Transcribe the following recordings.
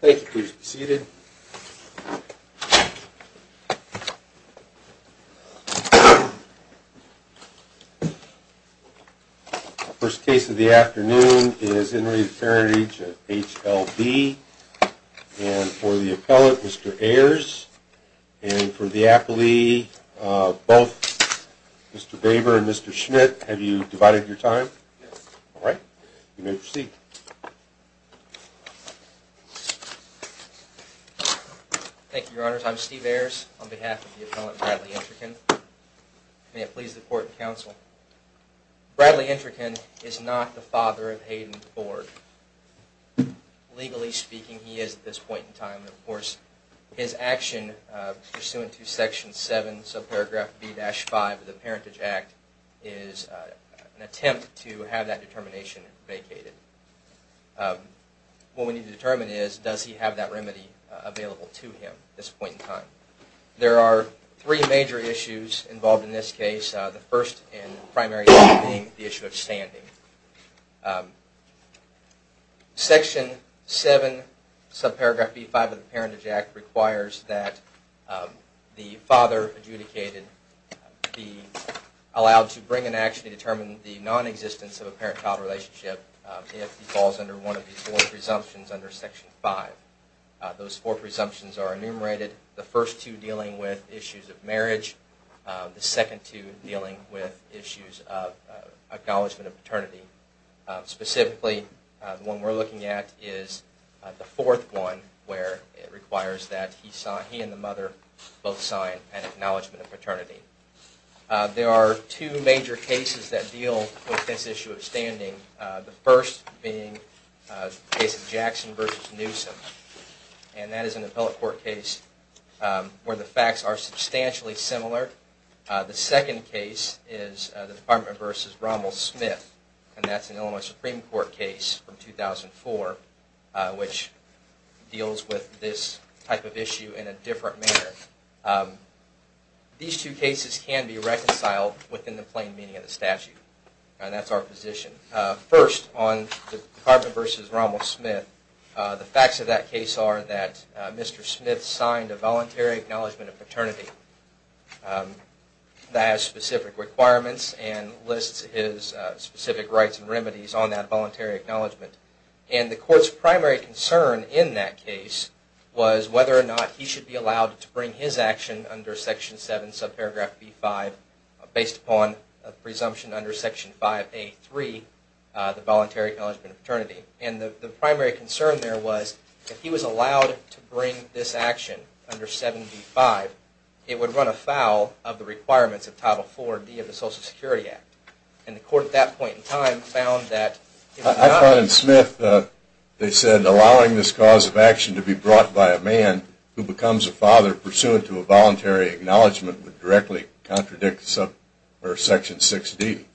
Thank you. Please be seated. First case of the afternoon is Henry Fairridge, HLB. And for the appellate, Mr. Ayers. And for the appellee, both Mr. Baber and Mr. Schmidt. Have you divided your time? Yes. Alright. You may proceed. Thank you, your honors. I'm Steve Ayers, on behalf of the appellate Bradley Entrican. May it please the court and counsel. Bradley Entrican is not the father of Hayden Ford. Legally speaking, he is at this point in time. Of course, his action pursuant to Section 7, subparagraph B-5 of the Parentage Act is an attempt to have that determination vacated. What we need to determine is, does he have that remedy available to him at this point in time. There are three major issues involved in this case. The first and primary being the issue of standing. Section 7, subparagraph B-5 of the Parentage Act requires that the father adjudicated be allowed to bring an action to determine the non-existence of a parent-child relationship if he falls under one of these four presumptions under Section 5. Those four presumptions are enumerated. The first two dealing with issues of marriage. The second two dealing with issues of acknowledgement of paternity. Specifically, the one we're looking at is the fourth one, where it requires that he and the mother both sign an acknowledgement of paternity. There are two major cases that deal with this issue of standing. The first being the case of Jackson v. Newsom, and that is an appellate court case where the facts are substantially similar. The second case is the Department v. Rommel-Smith, and that's an Illinois Supreme Court case from 2004, which deals with this type of issue in a different manner. These two cases can be reconciled within the plain meaning of the statute, and that's our position. First, on the Department v. Rommel-Smith, the facts of that case are that Mr. Smith signed a voluntary acknowledgement of paternity that has specific requirements and lists his specific rights and remedies on that voluntary acknowledgement. The court's primary concern in that case was whether or not he should be allowed to bring his action under Section 7, subparagraph B-5, based upon a presumption under Section 5A-3, the voluntary acknowledgement of paternity. And the primary concern there was if he was allowed to bring this action under 7B-5, it would run afoul of the requirements of Title IV-D of the Social Security Act. And the court at that point in time found that it was not. I found in Smith, they said, that allowing this cause of action to be brought by a man who becomes a father pursuant to a voluntary acknowledgement would directly contradict Section 6-D.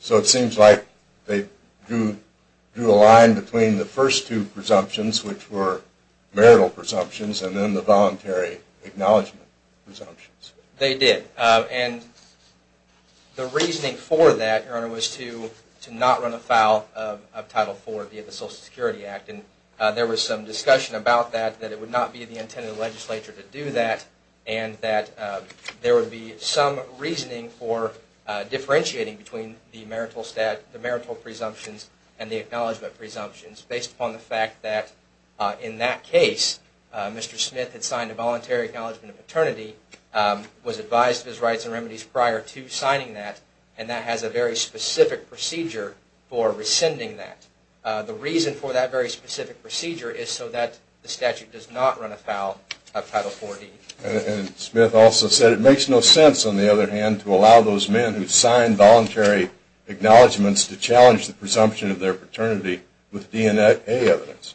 So it seems like they drew a line between the first two presumptions, which were marital presumptions, and then the voluntary acknowledgement presumptions. They did. And the reasoning for that, Your Honor, was to not run afoul of Title IV-D of the Social Security Act. And there was some discussion about that, that it would not be the intent of the legislature to do that, and that there would be some reasoning for differentiating between the marital stat, the marital presumptions, and the acknowledgement presumptions, based upon the fact that in that case, Mr. Smith had signed a voluntary acknowledgement of paternity, was advised of his rights and remedies prior to signing that, and that has a very specific procedure for rescinding that. The reason for that very specific procedure is so that the statute does not run afoul of Title IV-D. And Smith also said, it makes no sense, on the other hand, to allow those men who sign voluntary acknowledgements to challenge the presumption of their paternity with DNA evidence.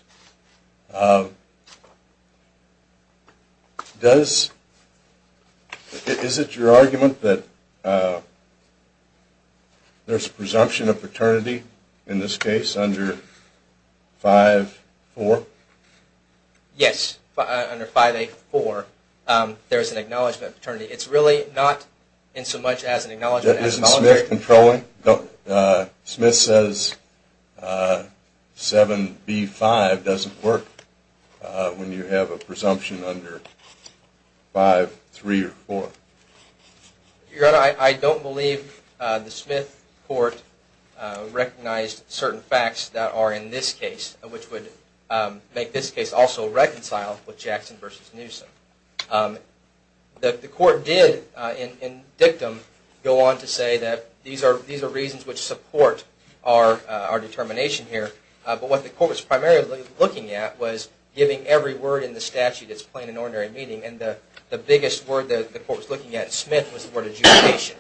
Does, is it your argument that there's presumption of paternity in this case under 5A-4? Yes, under 5A-4, there's an acknowledgement of paternity. It's really not in so much as an acknowledgement as voluntary. Smith says 7B-5 doesn't work when you have a presumption under 5A-3 or 4. Your Honor, I don't believe the Smith court recognized certain facts that are in this case, which would make this case also reconciled with Jackson v. Newsom. The court did, in dictum, go on to say that these are reasons which support our determination here. But what the court was primarily looking at was giving every word in the statute that's plain and ordinary meaning. And the biggest word that the court was looking at in Smith was the word adjudication.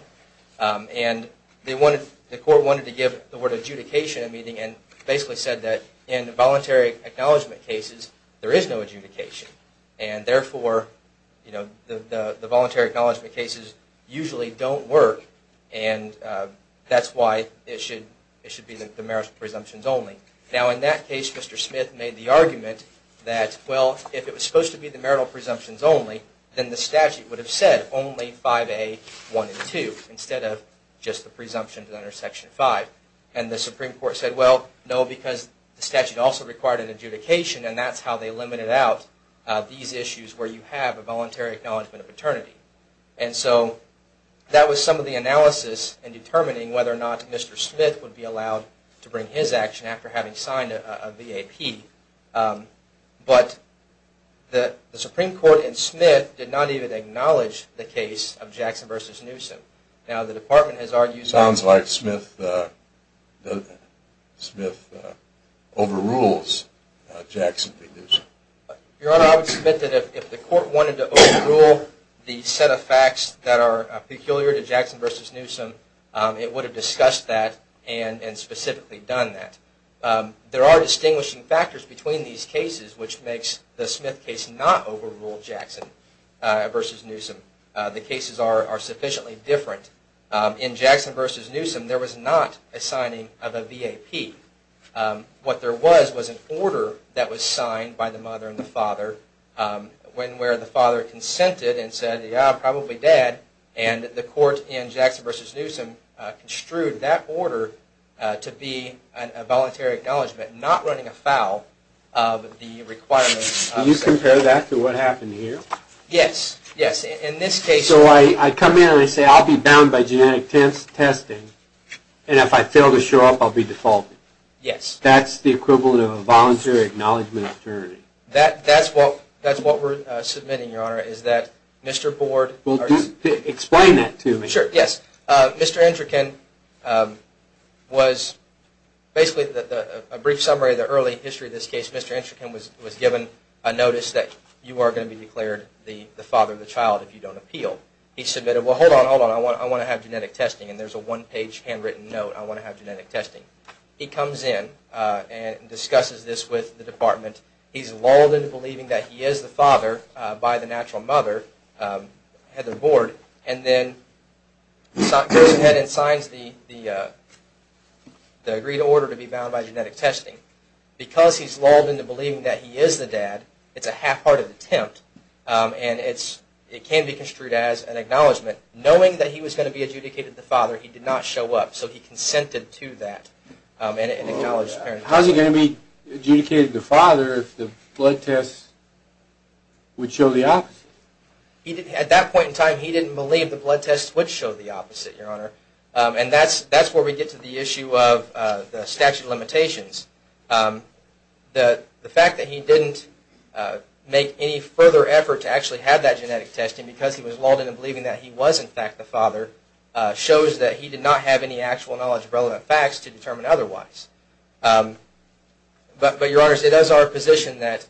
And the court wanted to give the word adjudication a meaning, and basically said that in voluntary acknowledgement cases, there is no adjudication. And therefore, the voluntary acknowledgement cases usually don't work, and that's why it should be the marital presumptions only. Now in that case, Mr. Smith made the argument that, well, if it was supposed to be the marital presumptions only, then the statute would have said only 5A-1 and 2, instead of just the presumptions under Section 5. And the Supreme Court said, well, no, because the statute also required an adjudication, and that's how they limited out these issues where you have a voluntary acknowledgement of paternity. And so that was some of the analysis in determining whether or not Mr. Smith would be allowed to bring his action after having signed a V.A.P. But the Supreme Court in Smith did not even acknowledge the case of Jackson v. Newsom. Sounds like Smith overrules Jackson v. Newsom. Your Honor, I would submit that if the court wanted to overrule the set of facts that are peculiar to Jackson v. Newsom, it would have discussed that and specifically done that. There are distinguishing factors between these cases which makes the Smith case not overrule Jackson v. Newsom. The cases are sufficiently different. In Jackson v. Newsom, there was not a signing of a V.A.P. What there was was an order that was signed by the mother and the father, where the father consented and said, yeah, probably dad, and the court in Jackson v. Newsom construed that order to be a voluntary acknowledgement, not running afoul of the requirements. Can you compare that to what happened here? Yes, yes. So I come in and I say I'll be bound by genetic testing, and if I fail to show up, I'll be defaulted. That's the equivalent of a voluntary acknowledgement of paternity. That's what we're submitting, Your Honor, is that Mr. Board... Explain that to me. Sure, yes. Mr. Enchikin was basically a brief summary of the early history of this case. Mr. Enchikin was given a notice that you are going to be declared the father of the child if you don't appeal. He submitted, well, hold on, hold on, I want to have genetic testing, and there's a one-page handwritten note, I want to have genetic testing. He comes in and discusses this with the department. He's lulled into believing that he is the father by the natural mother, Heather Board, and then goes ahead and signs the agreed order to be bound by genetic testing. Because he's lulled into believing that he is the dad, it's a half-hearted attempt, and it can be construed as an acknowledgement. Knowing that he was going to be adjudicated the father, he did not show up, so he consented to that and acknowledged his parenthood. How is he going to be adjudicated the father if the blood tests would show the opposite? At that point in time, he didn't believe the blood tests would show the opposite, Your Honor, and that's where we get to the issue of the statute of limitations. The fact that he didn't make any further effort to actually have that genetic testing because he was lulled into believing that he was, in fact, the father, shows that he did not have any actual knowledge of relevant facts to determine otherwise. But, Your Honors, it is our position that...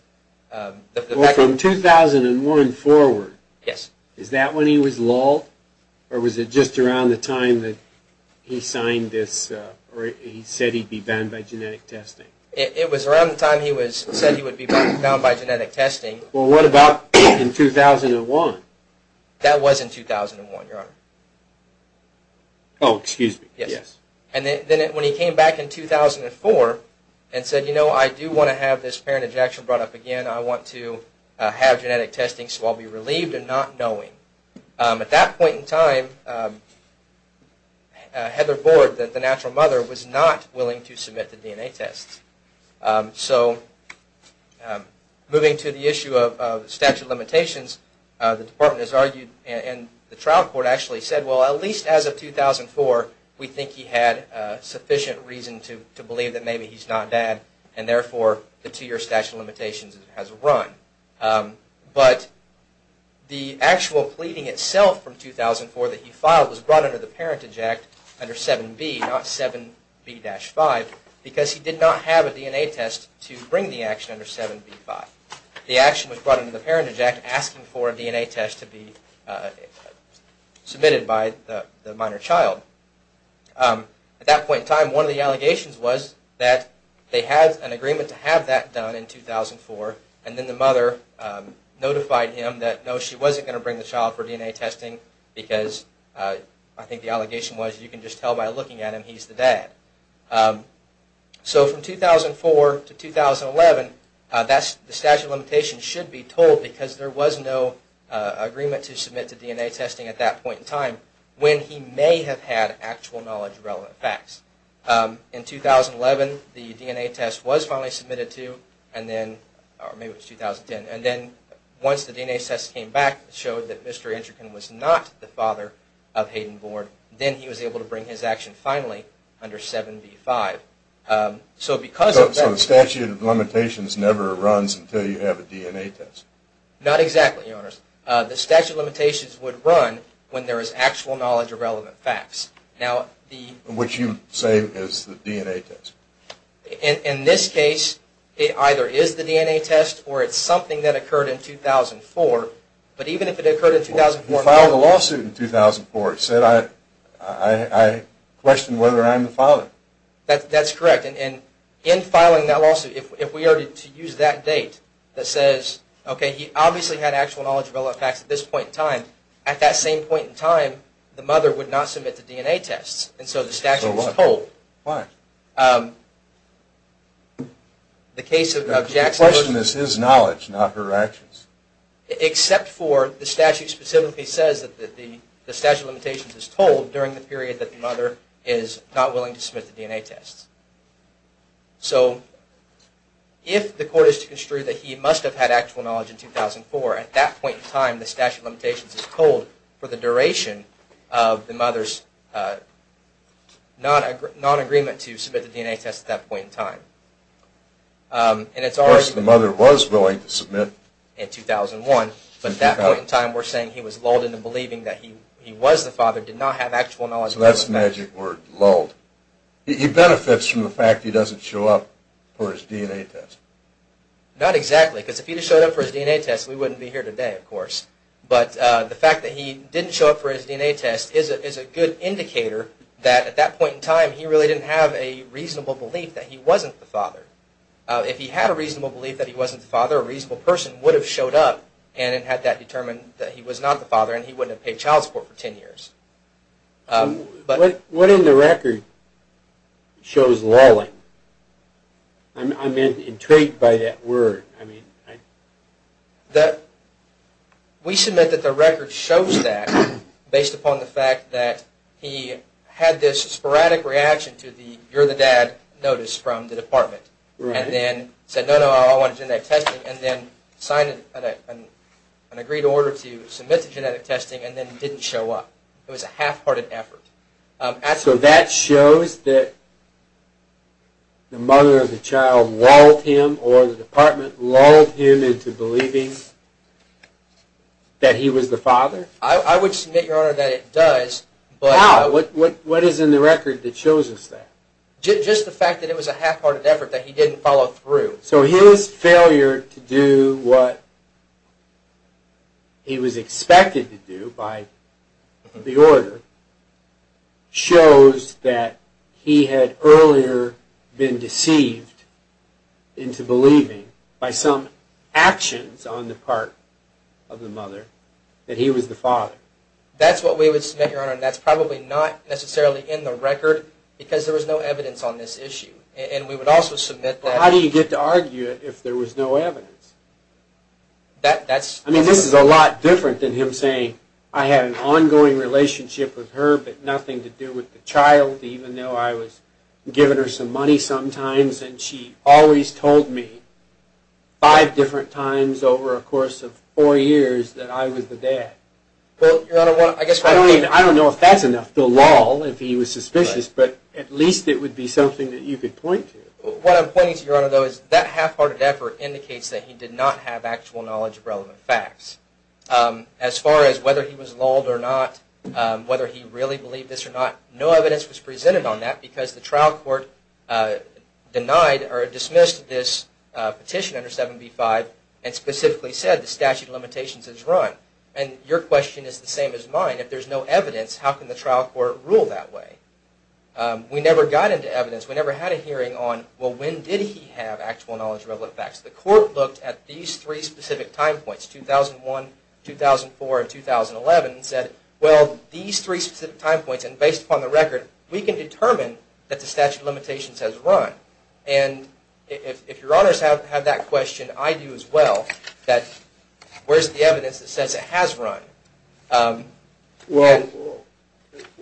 Well, from 2001 forward, is that when he was lulled, or was it just around the time that he signed this, or he said he'd be banned by genetic testing? It was around the time he said he would be banned by genetic testing. Well, what about in 2001? That was in 2001, Your Honor. Oh, excuse me. Yes. And then when he came back in 2004 and said, you know, I do want to have this parentage action brought up again, I want to have genetic testing so I'll be relieved in not knowing. At that point in time, Heather Bord, the natural mother, was not willing to submit the DNA tests. So, moving to the issue of statute of limitations, the Department has argued, and the trial court actually said, well, at least as of 2004, we think he had sufficient reason to believe that maybe he's not dad, and therefore the two-year statute of limitations has run. But the actual pleading itself from 2004 that he filed was brought under the parentage act under 7B, not 7B-5, because he did not have a DNA test to bring the action under 7B-5. The action was brought under the parentage act asking for a DNA test to be submitted by the minor child. At that point in time, one of the allegations was that they had an agreement to have that done in 2004, and then the mother notified him that no, she wasn't going to bring the child for DNA testing, because I think the allegation was you can just tell by looking at him he's the dad. So from 2004 to 2011, the statute of limitations should be told, because there was no agreement to submit to DNA testing at that point in time when he may have had actual knowledge of relevant facts. In 2011, the DNA test was finally submitted to, or maybe it was 2010, and then once the DNA test came back, it showed that Mr. Enchikin was not the father of Hayden Bourne. Then he was able to bring his action finally under 7B-5. So the statute of limitations never runs until you have a DNA test? Not exactly, Your Honors. The statute of limitations would run when there is actual knowledge of relevant facts. Which you say is the DNA test. In this case, it either is the DNA test or it's something that occurred in 2004, but even if it occurred in 2004... He filed a lawsuit in 2004. He said, I question whether I'm the father. That's correct, and in filing that lawsuit, if we are to use that date that says, okay, he obviously had actual knowledge of relevant facts at this point in time, at that same point in time, the mother would not submit the DNA tests, and so the statute is told. Why? The case of Jackson... The question is his knowledge, not her actions. Except for the statute specifically says that the statute of limitations is told during the period that the mother is not willing to submit the DNA tests. So if the court is to construe that he must have had actual knowledge in 2004, at that point in time, the statute of limitations is told for the duration of the mother's non-agreement to submit the DNA test at that point in time. Of course, the mother was willing to submit in 2001, but at that point in time we're saying he was lulled into believing that he was the father, did not have actual knowledge of relevant facts. So that's the magic word, lulled. He benefits from the fact that he doesn't show up for his DNA test. Not exactly, because if he showed up for his DNA test, we wouldn't be here today, of course. But the fact that he didn't show up for his DNA test is a good indicator that at that point in time he really didn't have a reasonable belief that he wasn't the father. If he had a reasonable belief that he wasn't the father, a reasonable person would have showed up and had that determined that he was not the father and he wouldn't have paid child support for 10 years. What in the record shows lulling? I'm intrigued by that word. We submit that the record shows that based upon the fact that he had this sporadic reaction to the you're the dad notice from the department and then said no, no, I want genetic testing and then signed an agreed order to submit the genetic testing and then didn't show up. It was a half-hearted effort. So that shows that the mother of the child lulled him or the department lulled him into believing that he was the father? I would submit, Your Honor, that it does. How? What is in the record that shows us that? Just the fact that it was a half-hearted effort that he didn't follow through. So his failure to do what he was expected to do by the order shows that he had earlier been deceived into believing by some actions on the part of the mother that he was the father. That's what we would submit, Your Honor, and that's probably not necessarily in the record because there was no evidence on this issue. And we would also submit that... How do you get to argue it if there was no evidence? That's... I mean, this is a lot different than him saying I had an ongoing relationship with her but nothing to do with the child even though I was giving her some money sometimes and she always told me five different times over a course of four years that I was the dad. Well, Your Honor, I guess... I don't know if that's enough to lull if he was suspicious, but at least it would be something that you could point to. What I'm pointing to, Your Honor, though, is that half-hearted effort indicates that he did not have actual knowledge of relevant facts. As far as whether he was lulled or not, whether he really believed this or not, no evidence was presented on that because the trial court denied or dismissed this petition under 7b-5 and specifically said the statute of limitations is run. And your question is the same as mine. If there's no evidence, how can the trial court rule that way? We never got into evidence. We never had a hearing on, well, when did he have actual knowledge of relevant facts? The court looked at these three specific time points, 2001, 2004, and 2011, and said, well, these three specific time points, and based upon the record, we can determine that the statute of limitations has run. And if Your Honors have that question, I do as well, that where's the evidence that says it has run? Well,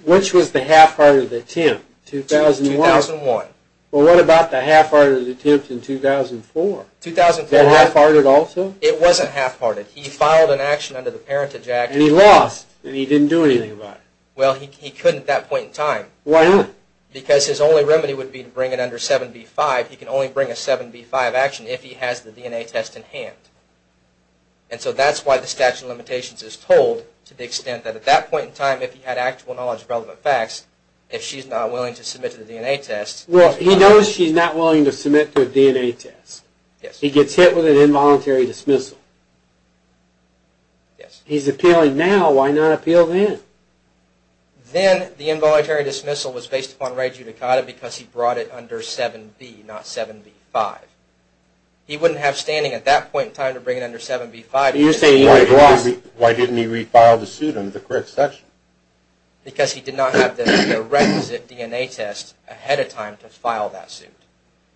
which was the half-hearted attempt? 2001. 2001. Well, what about the half-hearted attempt in 2004? 2004. That half-hearted also? It wasn't half-hearted. He filed an action under the Parentage Act. And he lost, and he didn't do anything about it. Well, he couldn't at that point in time. Why not? Because his only remedy would be to bring it under 7b-5. He can only bring a 7b-5 action if he has the DNA test in hand. And so that's why the statute of limitations is told to the extent that at that point in time, if he had actual knowledge of relevant facts, if she's not willing to submit to the DNA test. Well, he knows she's not willing to submit to a DNA test. He gets hit with an involuntary dismissal. Yes. He's appealing now. Why not appeal then? Then the involuntary dismissal was based upon re judicata because he brought it under 7b, not 7b-5. He wouldn't have standing at that point in time to bring it under 7b-5. You say he lost. Why didn't he refile the suit under the correct section? Because he did not have the requisite DNA test ahead of time to file that suit.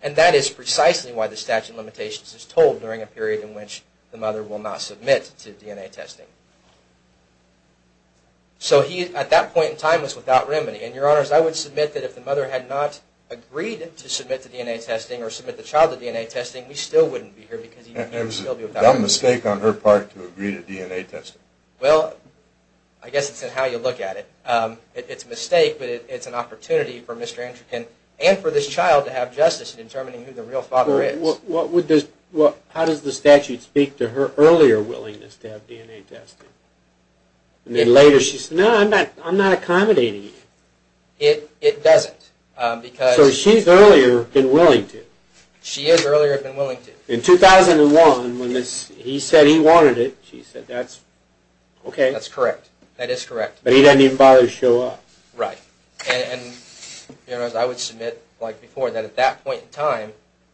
And that is precisely why the statute of limitations is told during a period in which the mother will not submit to DNA testing. So he, at that point in time, was without remedy. And, Your Honors, I would submit that if the mother had not agreed to submit to DNA testing or submit the child to DNA testing, we still wouldn't be here because he would still be without remedy. That was a dumb mistake on her part to agree to DNA testing. Well, I guess it's in how you look at it. It's a mistake, but it's an opportunity for Mr. Antrikan and for this child to have justice in determining who the real father is. How does the statute speak to her earlier willingness to have DNA testing? And then later she says, no, I'm not accommodating it. It doesn't. So she's earlier been willing to. She is earlier been willing to. In 2001, when he said he wanted it, she said that's okay. That's correct. That is correct. But he doesn't even bother to show up. Right. And, Your Honors, I would submit, like before, that at that point in time,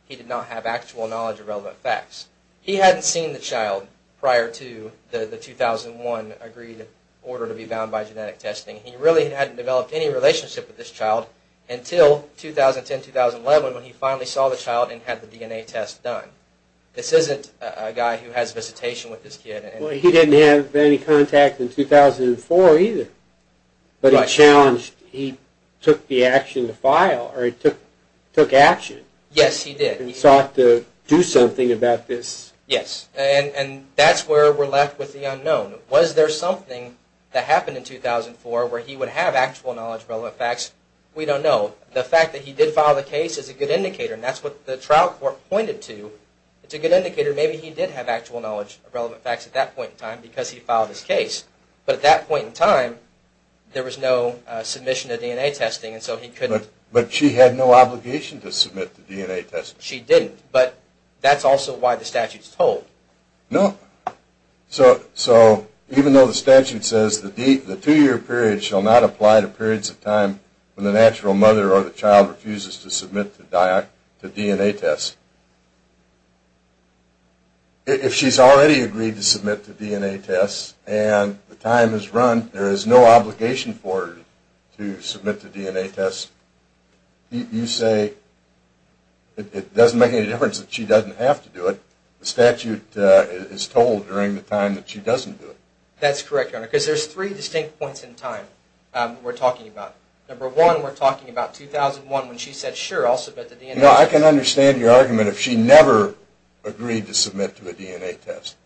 he did not have actual knowledge of relevant facts. He hadn't seen the child prior to the 2001 agreed order to be bound by genetic testing. He really hadn't developed any relationship with this child until 2010, 2011, when he finally saw the child and had the DNA test done. This isn't a guy who has visitation with this kid. Well, he didn't have any contact in 2004 either. But he challenged, he took the action to file, or he took action. Yes, he did. And sought to do something about this. Yes, and that's where we're left with the unknown. Was there something that happened in 2004 where he would have actual knowledge of relevant facts? We don't know. The fact that he did file the case is a good indicator, and that's what the trial court pointed to. It's a good indicator. Maybe he did have actual knowledge of relevant facts at that point in time because he filed his case. But at that point in time, there was no submission to DNA testing, and so he couldn't... But she had no obligation to submit to DNA testing. She didn't. But that's also why the statute's told. No. So even though the statute says the two-year period shall not apply to periods of time when the natural mother or the child refuses to submit to DNA tests, if she's already agreed to submit to DNA tests and the time has run, there is no obligation for her to submit to DNA tests, you say it doesn't make any difference that she doesn't have to do it. The statute is told during the time that she doesn't do it. That's correct, Your Honor, because there's three distinct points in time we're talking about. Number one, we're talking about 2001 when she said, sure, I'll submit to DNA tests. You know, I can understand your argument if she never agreed to submit to a DNA test.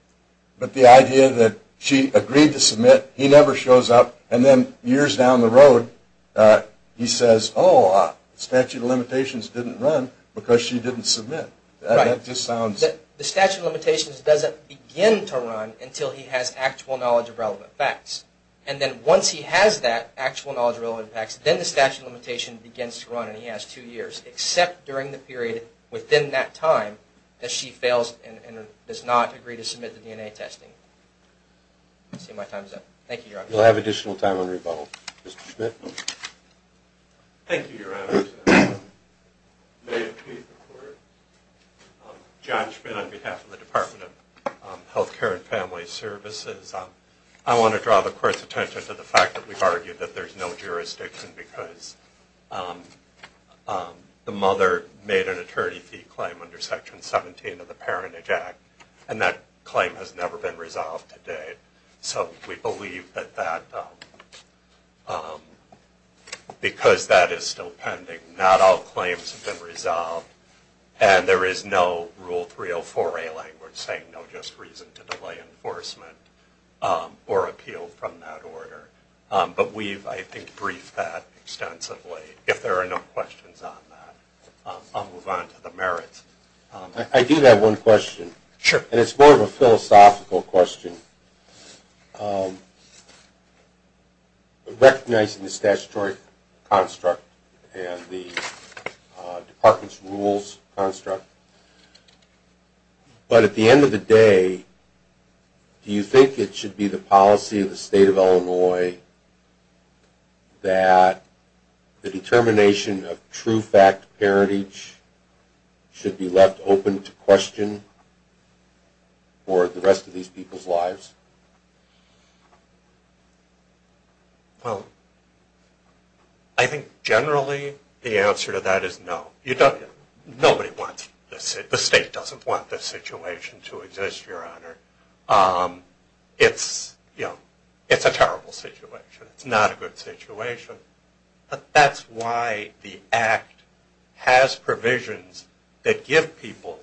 But the idea that she agreed to submit, he never shows up, and then years down the road he says, oh, statute of limitations didn't run because she didn't submit. The statute of limitations doesn't begin to run until he has actual knowledge of relevant facts. And then once he has that actual knowledge of relevant facts, then the statute of limitations begins to run and he has two years, except during the period within that time that she fails and does not agree to submit to DNA testing. I see my time's up. Thank you, Your Honor. We'll have additional time on rebuttal. Mr. Schmidt? Thank you, Your Honor. May it please the Court. John Schmidt on behalf of the Department of Health Care and Family Services. I want to draw the Court's attention to the fact that we've argued that there's no jurisdiction because the mother made an attorney fee claim under Section 17 of the Parentage Act, so we believe that because that is still pending, not all claims have been resolved, and there is no Rule 304A language saying no just reason to delay enforcement or appeal from that order. But we've, I think, briefed that extensively. If there are no questions on that, I'll move on to the merits. I do have one question. Sure. And it's more of a philosophical question. Recognizing the statutory construct and the Department's rules construct, but at the end of the day, do you think it should be the policy of the State of Illinois that the determination of true fact parentage should be left open to question for the rest of these people's lives? Well, I think generally the answer to that is no. Nobody wants this. The State doesn't want this situation to exist, Your Honor. It's a terrible situation. It's not a good situation. But that's why the Act has provisions that give people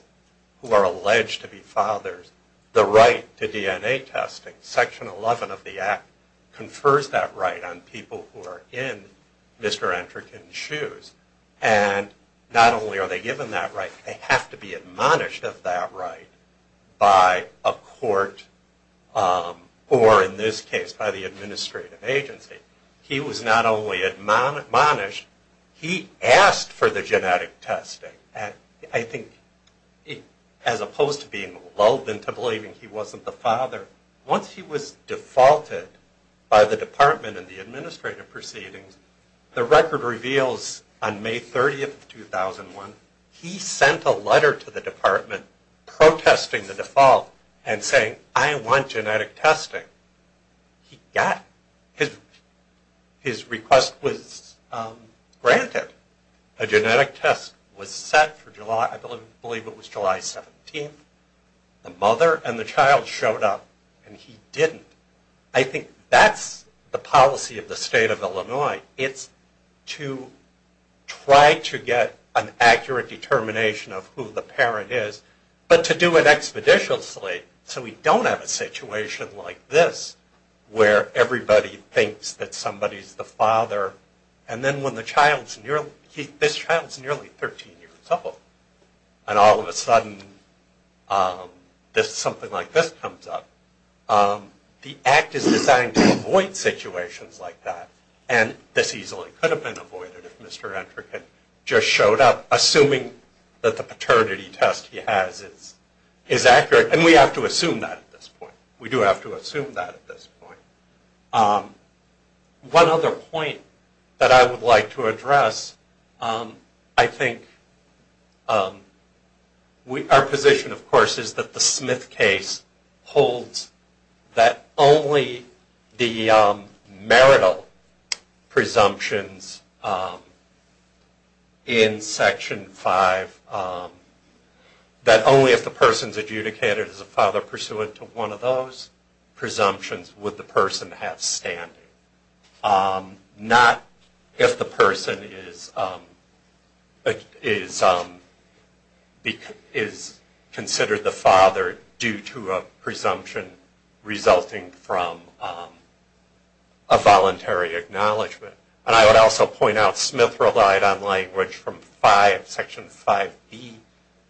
who are alleged to be fathers the right to DNA testing. Section 11 of the Act confers that right on people who are in Mr. Entrecken's shoes, and not only are they given that right, they have to be admonished of that right by a court, or in this case by the administrative agency. He was not only admonished, he asked for the genetic testing. And I think as opposed to being lulled into believing he wasn't the father, once he was defaulted by the Department and the administrative proceedings, the record reveals on May 30th, 2001, he sent a letter to the Department protesting the default and saying, I want genetic testing. He got it. His request was granted. A genetic test was set for July, I believe it was July 17th. The mother and the child showed up, and he didn't. I think that's the policy of the state of Illinois. It's to try to get an accurate determination of who the parent is, but to do it expeditiously, so we don't have a situation like this, where everybody thinks that somebody's the father, and then when this child's nearly 13 years old, and all of a sudden something like this comes up, the Act is designed to avoid situations like that. And this easily could have been avoided if Mr. Entrecote just showed up, assuming that the paternity test he has is accurate. And we have to assume that at this point. We do have to assume that at this point. One other point that I would like to address, I think our position, of course, is that the Smith case holds that only the marital presumptions in Section 5, that only if the person's adjudicated as a father pursuant to one of those presumptions would the person have standing. Not if the person is considered the father due to a presumption resulting from a voluntary acknowledgement. And I would also point out Smith relied on language from Section 5B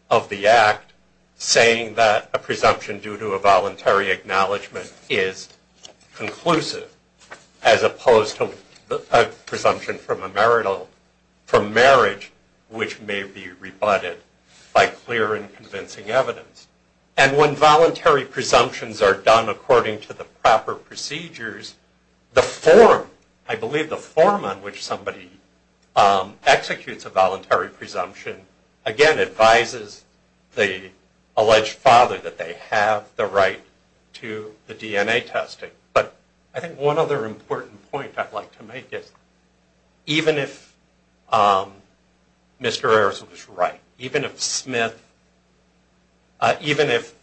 of the Act, saying that a presumption due to a voluntary acknowledgement is conclusive, as opposed to a presumption from a marital, from marriage, which may be rebutted by clear and convincing evidence. And when voluntary presumptions are done according to the proper procedures, the form, I believe the form on which somebody executes a voluntary presumption, again, advises the alleged father that they have the right to the DNA testing. But I think one other important point I'd like to make is even if Mr. Ayers was right, even if Smith, even if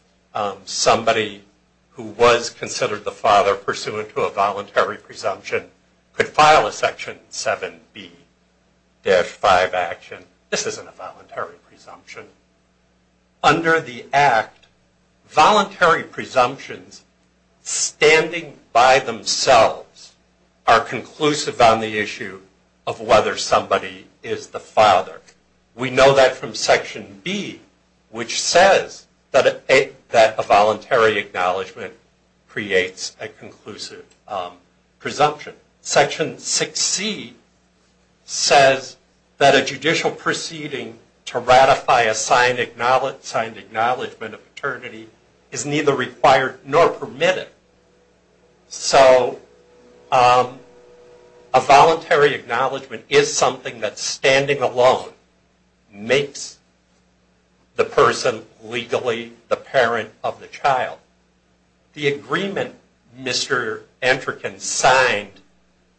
somebody who was considered the father pursuant to a voluntary presumption could file a Section 7B-5 action, this isn't a voluntary presumption. Under the Act, voluntary presumptions standing by themselves are conclusive on the issue of whether somebody is the father. We know that from Section B, which says that a voluntary acknowledgement creates a conclusive presumption. Section 6C says that a judicial proceeding to ratify a signed acknowledgement of paternity is neither required nor permitted. So a voluntary acknowledgement is something that, standing alone, makes the person legally the parent of the child. The agreement Mr. Antrikan signed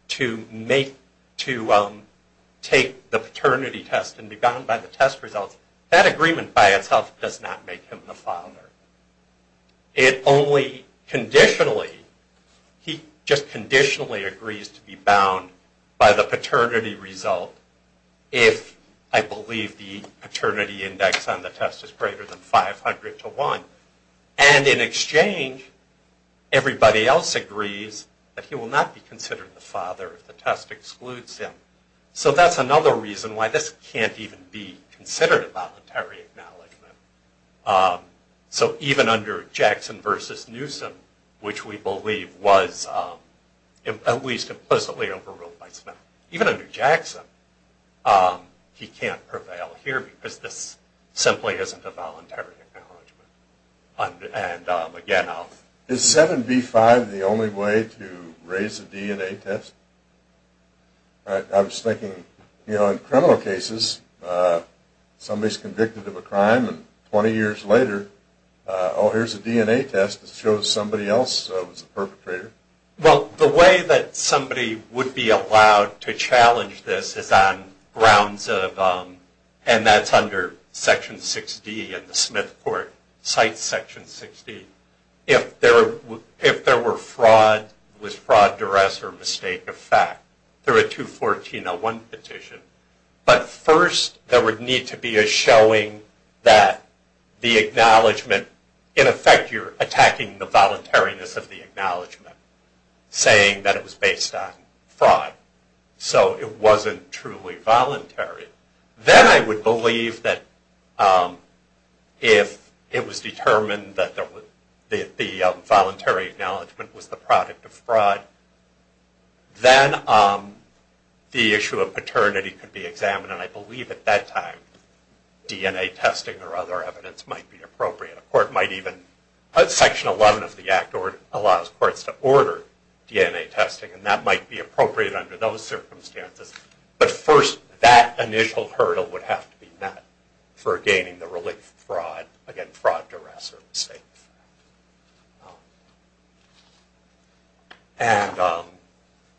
to take the paternity test and be gotten by the test results, that agreement by itself does not make him the father. It only conditionally, he just conditionally agrees to be bound by the paternity result if I believe the paternity index on the test is greater than 500 to 1. And in exchange, everybody else agrees that he will not be considered the father if the test excludes him. So that's another reason why this can't even be considered a voluntary acknowledgement. So even under Jackson v. Newsom, which we believe was at least implicitly overruled by Smith, even under Jackson, he can't prevail here because this simply isn't a voluntary acknowledgement. Is 7B-5 the only way to raise the DNA test? I was thinking, you know, in criminal cases, somebody's convicted of a crime and 20 years later, oh, here's a DNA test that shows somebody else was a perpetrator. Well, the way that somebody would be allowed to challenge this is on grounds of, and that's under Section 6D in the Smith Court, Site Section 6D. If there were fraud, was fraud duress or mistake of fact, through a 214-01 petition. But first, there would need to be a showing that the acknowledgement, in effect, you're attacking the voluntariness of the acknowledgement, saying that it was based on fraud. So it wasn't truly voluntary. Then I would believe that if it was determined that the voluntary acknowledgement was the product of fraud, then the issue of paternity could be examined. And I believe at that time, DNA testing or other evidence might be appropriate. A court might even, Section 11 of the Act allows courts to order DNA testing, and that might be appropriate under those circumstances. But first, that initial hurdle would have to be met for gaining the relief from fraud, again, fraud duress or mistake of fact.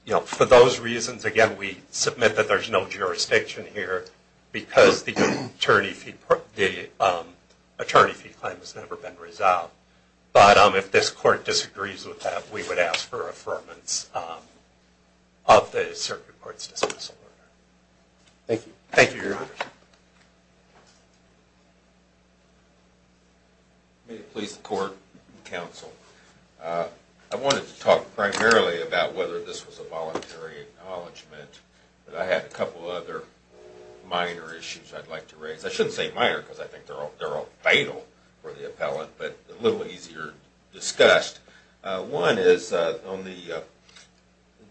And for those reasons, again, we submit that there's no jurisdiction here because the attorney fee claim has never been resolved. But if this court disagrees with that, we would ask for affirmance of the circuit court's dismissal order. Thank you. Thank you, Your Honor. May it please the court and counsel. I wanted to talk primarily about whether this was a voluntary acknowledgement, but I had a couple other minor issues I'd like to raise. I shouldn't say minor because I think they're all vital for the appellant, but a little easier discussed. One is on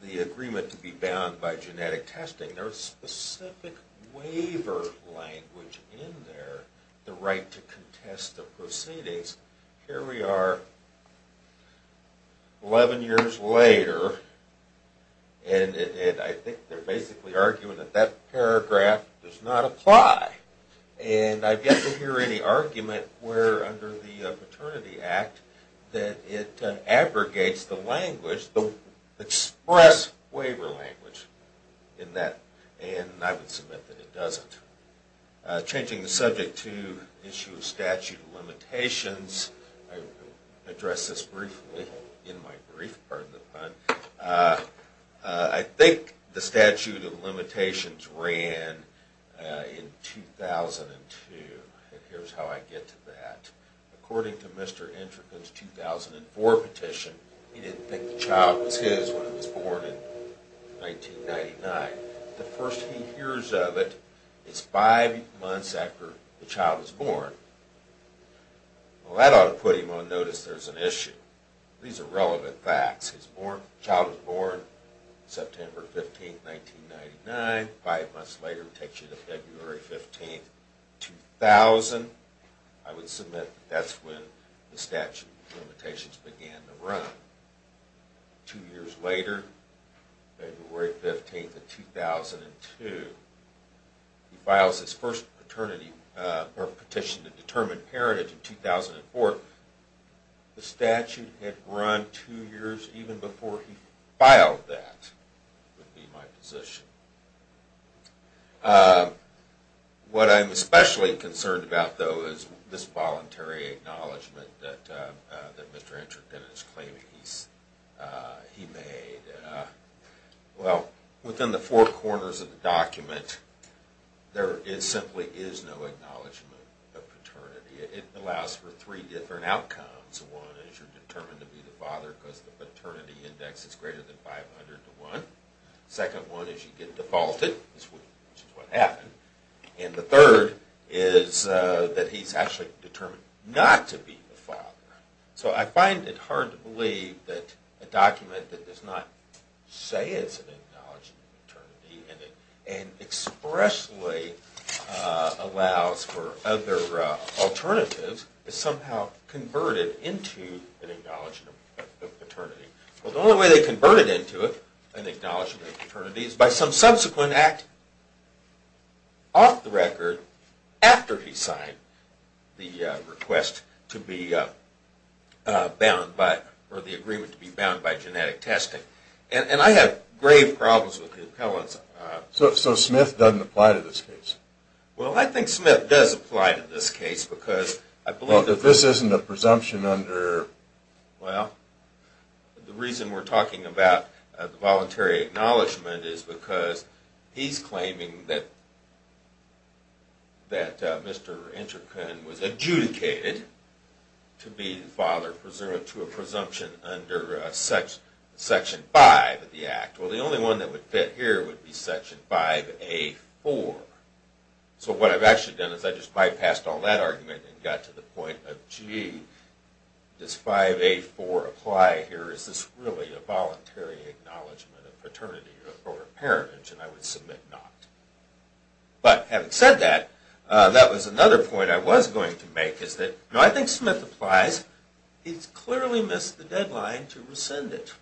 the agreement to be bound by genetic testing. There's specific waiver language in there, the right to contest the proceedings. Here we are 11 years later, and I think they're basically arguing that that paragraph does not apply. And I've yet to hear any argument where, under the Paternity Act, that it abrogates the language, the express waiver language in that, and I would submit that it doesn't. Changing the subject to the issue of statute of limitations, I will address this briefly in my brief, pardon the pun. I think the statute of limitations ran in 2002, and here's how I get to that. According to Mr. Entrecote's 2004 petition, he didn't think the child was his when it was born in 1999. The first he hears of it is five months after the child was born. Well, that ought to put him on notice there's an issue. These are relevant facts. The child was born September 15th, 1999. Five months later, it takes you to February 15th, 2000. I would submit that's when the statute of limitations began to run. Two years later, February 15th of 2002, he files his first petition to determine heritage in 2004. The statute had run two years even before he filed that, would be my position. What I'm especially concerned about, though, is this voluntary acknowledgment that Mr. Entrecote is claiming he made. Well, within the four corners of the document, there simply is no acknowledgment of paternity. It allows for three different outcomes. One is you're determined to be the father because the paternity index is greater than 500 to 1. Second one is you get defaulted, which is what happened. And the third is that he's actually determined not to be the father. So I find it hard to believe that a document that does not say it's an acknowledgment of paternity and expressly allows for other alternatives is somehow converted into an acknowledgment of paternity. Well, the only way they convert it into an acknowledgment of paternity is by some subsequent act off the record after he signed the request to be bound by, or the agreement to be bound by genetic testing. And I have grave problems with the appellants. So Smith doesn't apply to this case? Well, I think Smith does apply to this case because I believe that this... Well, if this isn't a presumption under... Well, the reason we're talking about the voluntary acknowledgment is because he's claiming that Mr. Interken was adjudicated to be the father to a presumption under Section 5 of the Act. Well, the only one that would fit here would be Section 5A.4. So what I've actually done is I just bypassed all that argument and got to the point of, gee, does 5A.4 apply here? Is this really a voluntary acknowledgment of paternity or a parentage? And I would submit not. But having said that, that was another point I was going to make is that, no, I think Smith applies. He's clearly missed the deadline to rescind it.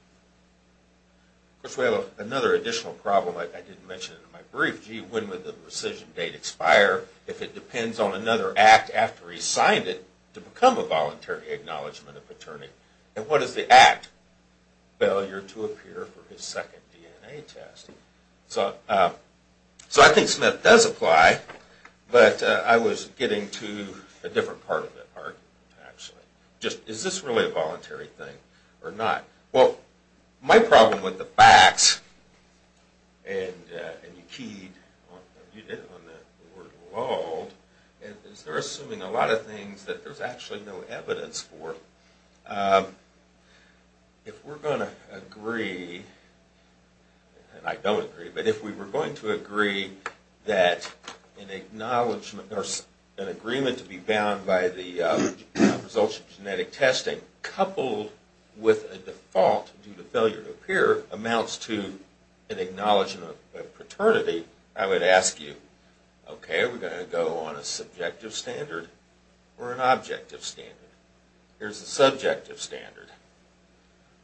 Of course, we have another additional problem I didn't mention in my brief. Gee, when would the rescission date expire if it depends on another act after he's signed it to become a voluntary acknowledgment of paternity? And what is the act? Failure to appear for his second DNA test. So I think Smith does apply, but I was getting to a different part of the argument, actually. Is this really a voluntary thing or not? Well, my problem with the facts, and you keyed on that word lulled, is they're assuming a lot of things that there's actually no evidence for. If we're going to agree, and I don't agree, but if we were going to agree that an agreement to be bound by the results of genetic testing coupled with a default due to failure to appear amounts to an acknowledgment of paternity, I would ask you, okay, are we going to go on a subjective standard or an objective standard? Here's the subjective standard.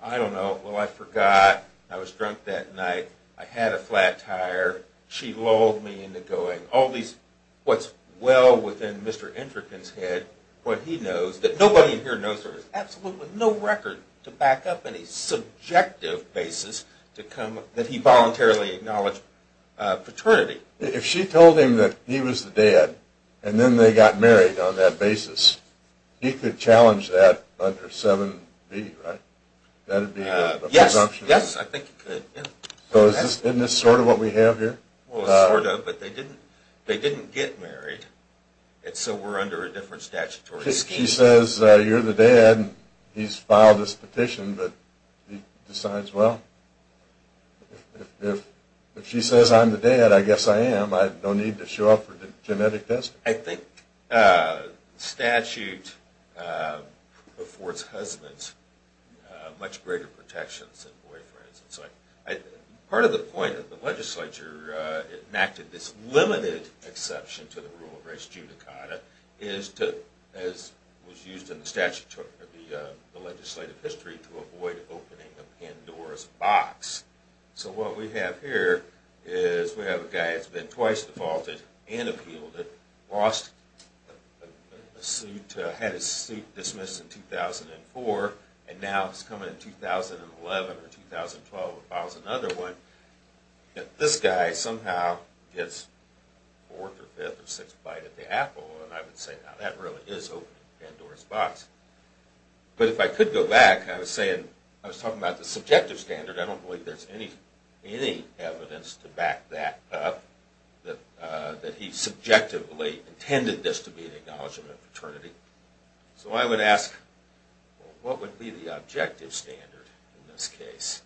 I don't know. Well, I forgot. I was drunk that night. I had a flat tire. She lulled me into going. All these, what's well within Mr. Endrickon's head, what he knows, that nobody in here knows there is absolutely no record to back up any subjective basis that he voluntarily acknowledged paternity. If she told him that he was the dad and then they got married on that basis, he could challenge that under 7B, right? Yes, I think he could. Isn't this sort of what we have here? Sort of, but they didn't get married, so we're under a different statutory scheme. If she says, you're the dad, he's filed this petition, but he decides, well, if she says I'm the dad, I guess I am. I have no need to show up for genetic testing. I think statute affords husbands much greater protections than boyfriends. Part of the point of the legislature enacted this limited exception to the rule of res judicata is to, as was used in the legislative history, to avoid opening a Pandora's box. So what we have here is we have a guy that's been twice defaulted and appealed it, lost a suit, had his suit dismissed in 2004, and now he's coming in 2011 or 2012 and files another one. This guy somehow gets 4th or 5th or 6th bite at the apple, and I would say now that really is opening a Pandora's box. But if I could go back, I was talking about the subjective standard. I don't believe there's any evidence to back that up, that he subjectively intended this to be an acknowledgment of paternity. So I would ask, what would be the objective standard in this case?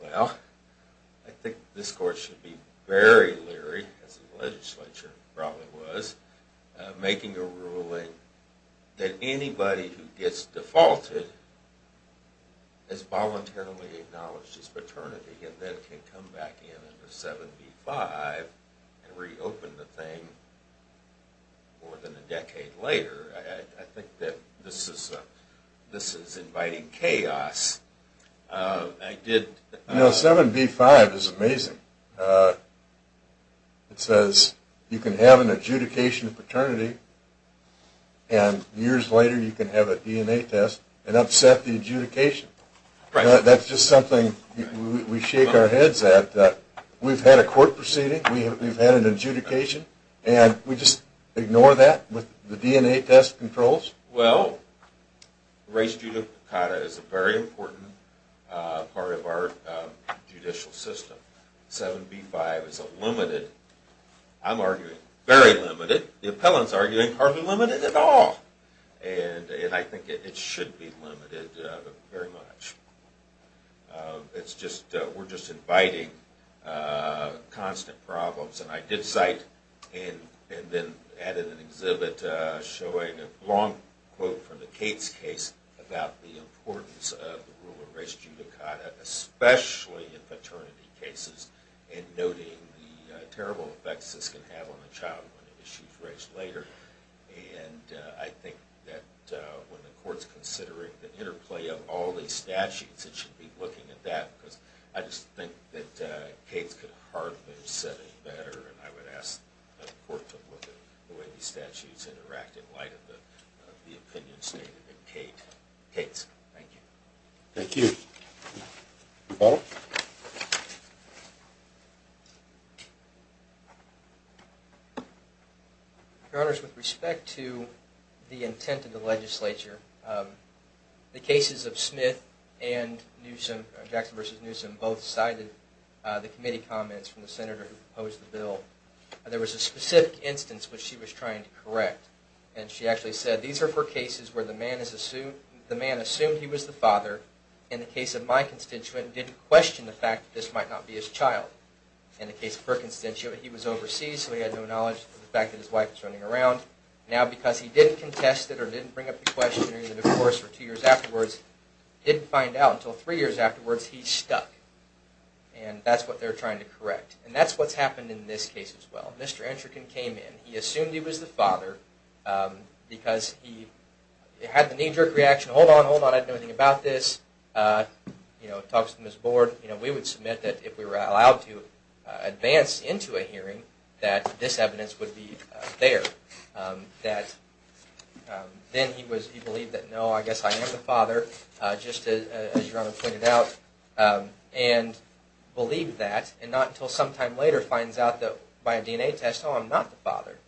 Well, I think this court should be very leery, as the legislature probably was, of making a ruling that anybody who gets defaulted is voluntarily acknowledged as paternity and then can come back in under 7b-5 and reopen the thing more than a decade later. I think that this is inviting chaos. You know, 7b-5 is amazing. It says you can have an adjudication of paternity, and years later you can have a DNA test and upset the adjudication. That's just something we shake our heads at. We've had a court proceeding, we've had an adjudication, and we just ignore that with the DNA test controls? Well, race judicata is a very important part of our judicial system. 7b-5 is a limited, I'm arguing very limited, the appellants are arguing hardly limited at all. And I think it should be limited very much. We're just inviting constant problems. And I did cite and then added an exhibit showing a long quote from the Cates case about the importance of the rule of race judicata, especially in paternity cases, and noting the terrible effects this can have on the child when the issue is raised later. And I think that when the court's considering the interplay of all these statutes, it should be looking at that, because I just think that Cates could hardly have said it better, and I would ask the court to look at the way these statutes interact in light of the opinions stated in Cates. Thank you. Thank you. Your Honor. Your Honor, with respect to the intent of the legislature, the cases of Smith and Jackson v. Newsom both cited the committee comments from the senator who proposed the bill. There was a specific instance which she was trying to correct, and she actually said, These are four cases where the man assumed he was the father, in the case of my constituent, and didn't question the fact that this might not be his child. In the case of her constituent, he was overseas, so he had no knowledge of the fact that his wife was running around. Now, because he didn't contest it or didn't bring up the question during the divorce or two years afterwards, he didn't find out until three years afterwards he stuck. And that's what they're trying to correct. And that's what's happened in this case as well. Mr. Entrichan came in, he assumed he was the father, because he had the knee-jerk reaction, Hold on, hold on, I don't know anything about this. He talks to his board. We would submit that if we were allowed to advance into a hearing, that this evidence would be there. Then he believed that, No, I guess I am the father, just as Your Honor pointed out, and believed that, and not until sometime later finds out that by a DNA test, Oh, I'm not the father.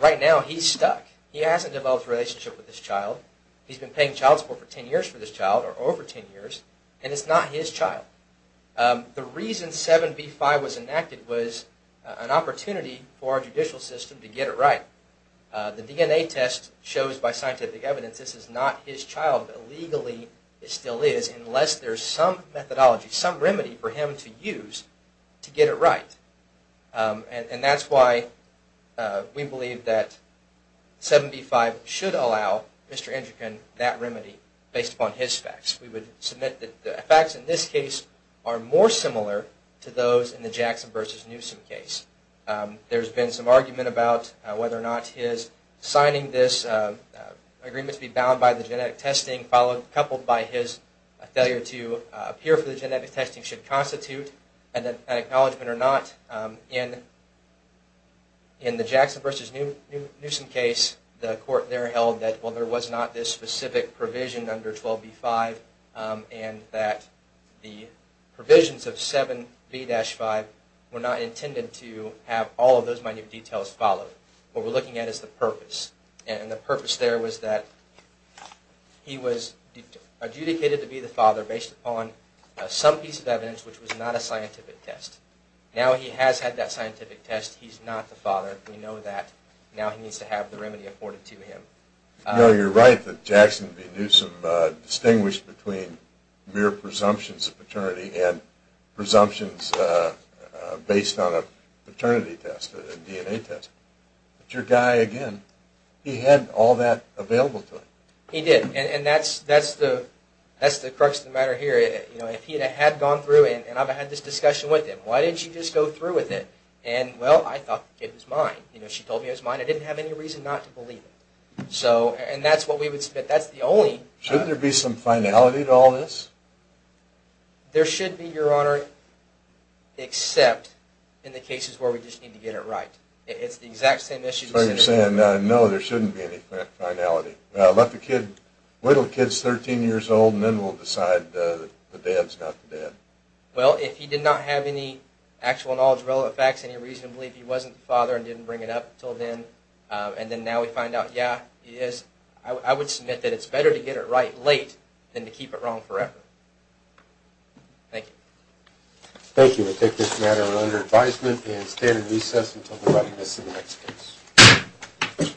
Right now, he's stuck. He hasn't developed a relationship with his child. He's been paying child support for ten years for this child, or over ten years, and it's not his child. The reason 7b-5 was enacted was an opportunity for our judicial system to get it right. The DNA test shows by scientific evidence this is not his child, but legally it still is, unless there's some methodology, some remedy for him to use to get it right. That's why we believe that 7b-5 should allow Mr. Endricon that remedy, based upon his facts. We would submit that the facts in this case are more similar to those in the Jackson v. Newsom case. There's been some argument about whether or not his signing this agreement to be bound by the genetic testing, coupled by his failure to appear for the genetic testing should constitute an acknowledgement or not in the Jackson v. Newsom case. The court there held that there was not this specific provision under 12b-5, and that the provisions of 7b-5 were not intended to have all of those minute details followed. What we're looking at is the purpose, and the purpose there was that he was adjudicated to be the father based upon some piece of evidence which was not a scientific test. Now he has had that scientific test. He's not the father. We know that. Now he needs to have the remedy afforded to him. You're right that Jackson v. Newsom distinguished between mere presumptions of paternity and presumptions based on a paternity test, a DNA test. But your guy, again, he had all that available to him. He did, and that's the crux of the matter here. If he had gone through and I've had this discussion with him, why didn't you just go through with it? And, well, I thought the kid was mine. She told me it was mine. I didn't have any reason not to believe it. And that's what we would submit. Shouldn't there be some finality to all this? There should be, Your Honor, except in the cases where we just need to get it right. It's the exact same issue. So you're saying, no, there shouldn't be any finality. Let the kid wait until the kid is 13 years old, and then we'll decide that the dad is not the dad. Well, if he did not have any actual knowledge, relative facts, any reason to believe he wasn't the father and didn't bring it up until then, and then now we find out, yeah, he is, I would submit that it's better to get it right late than to keep it wrong forever. Thank you. Thank you. We take this matter under advisement and stand in recess until the body is in the next case.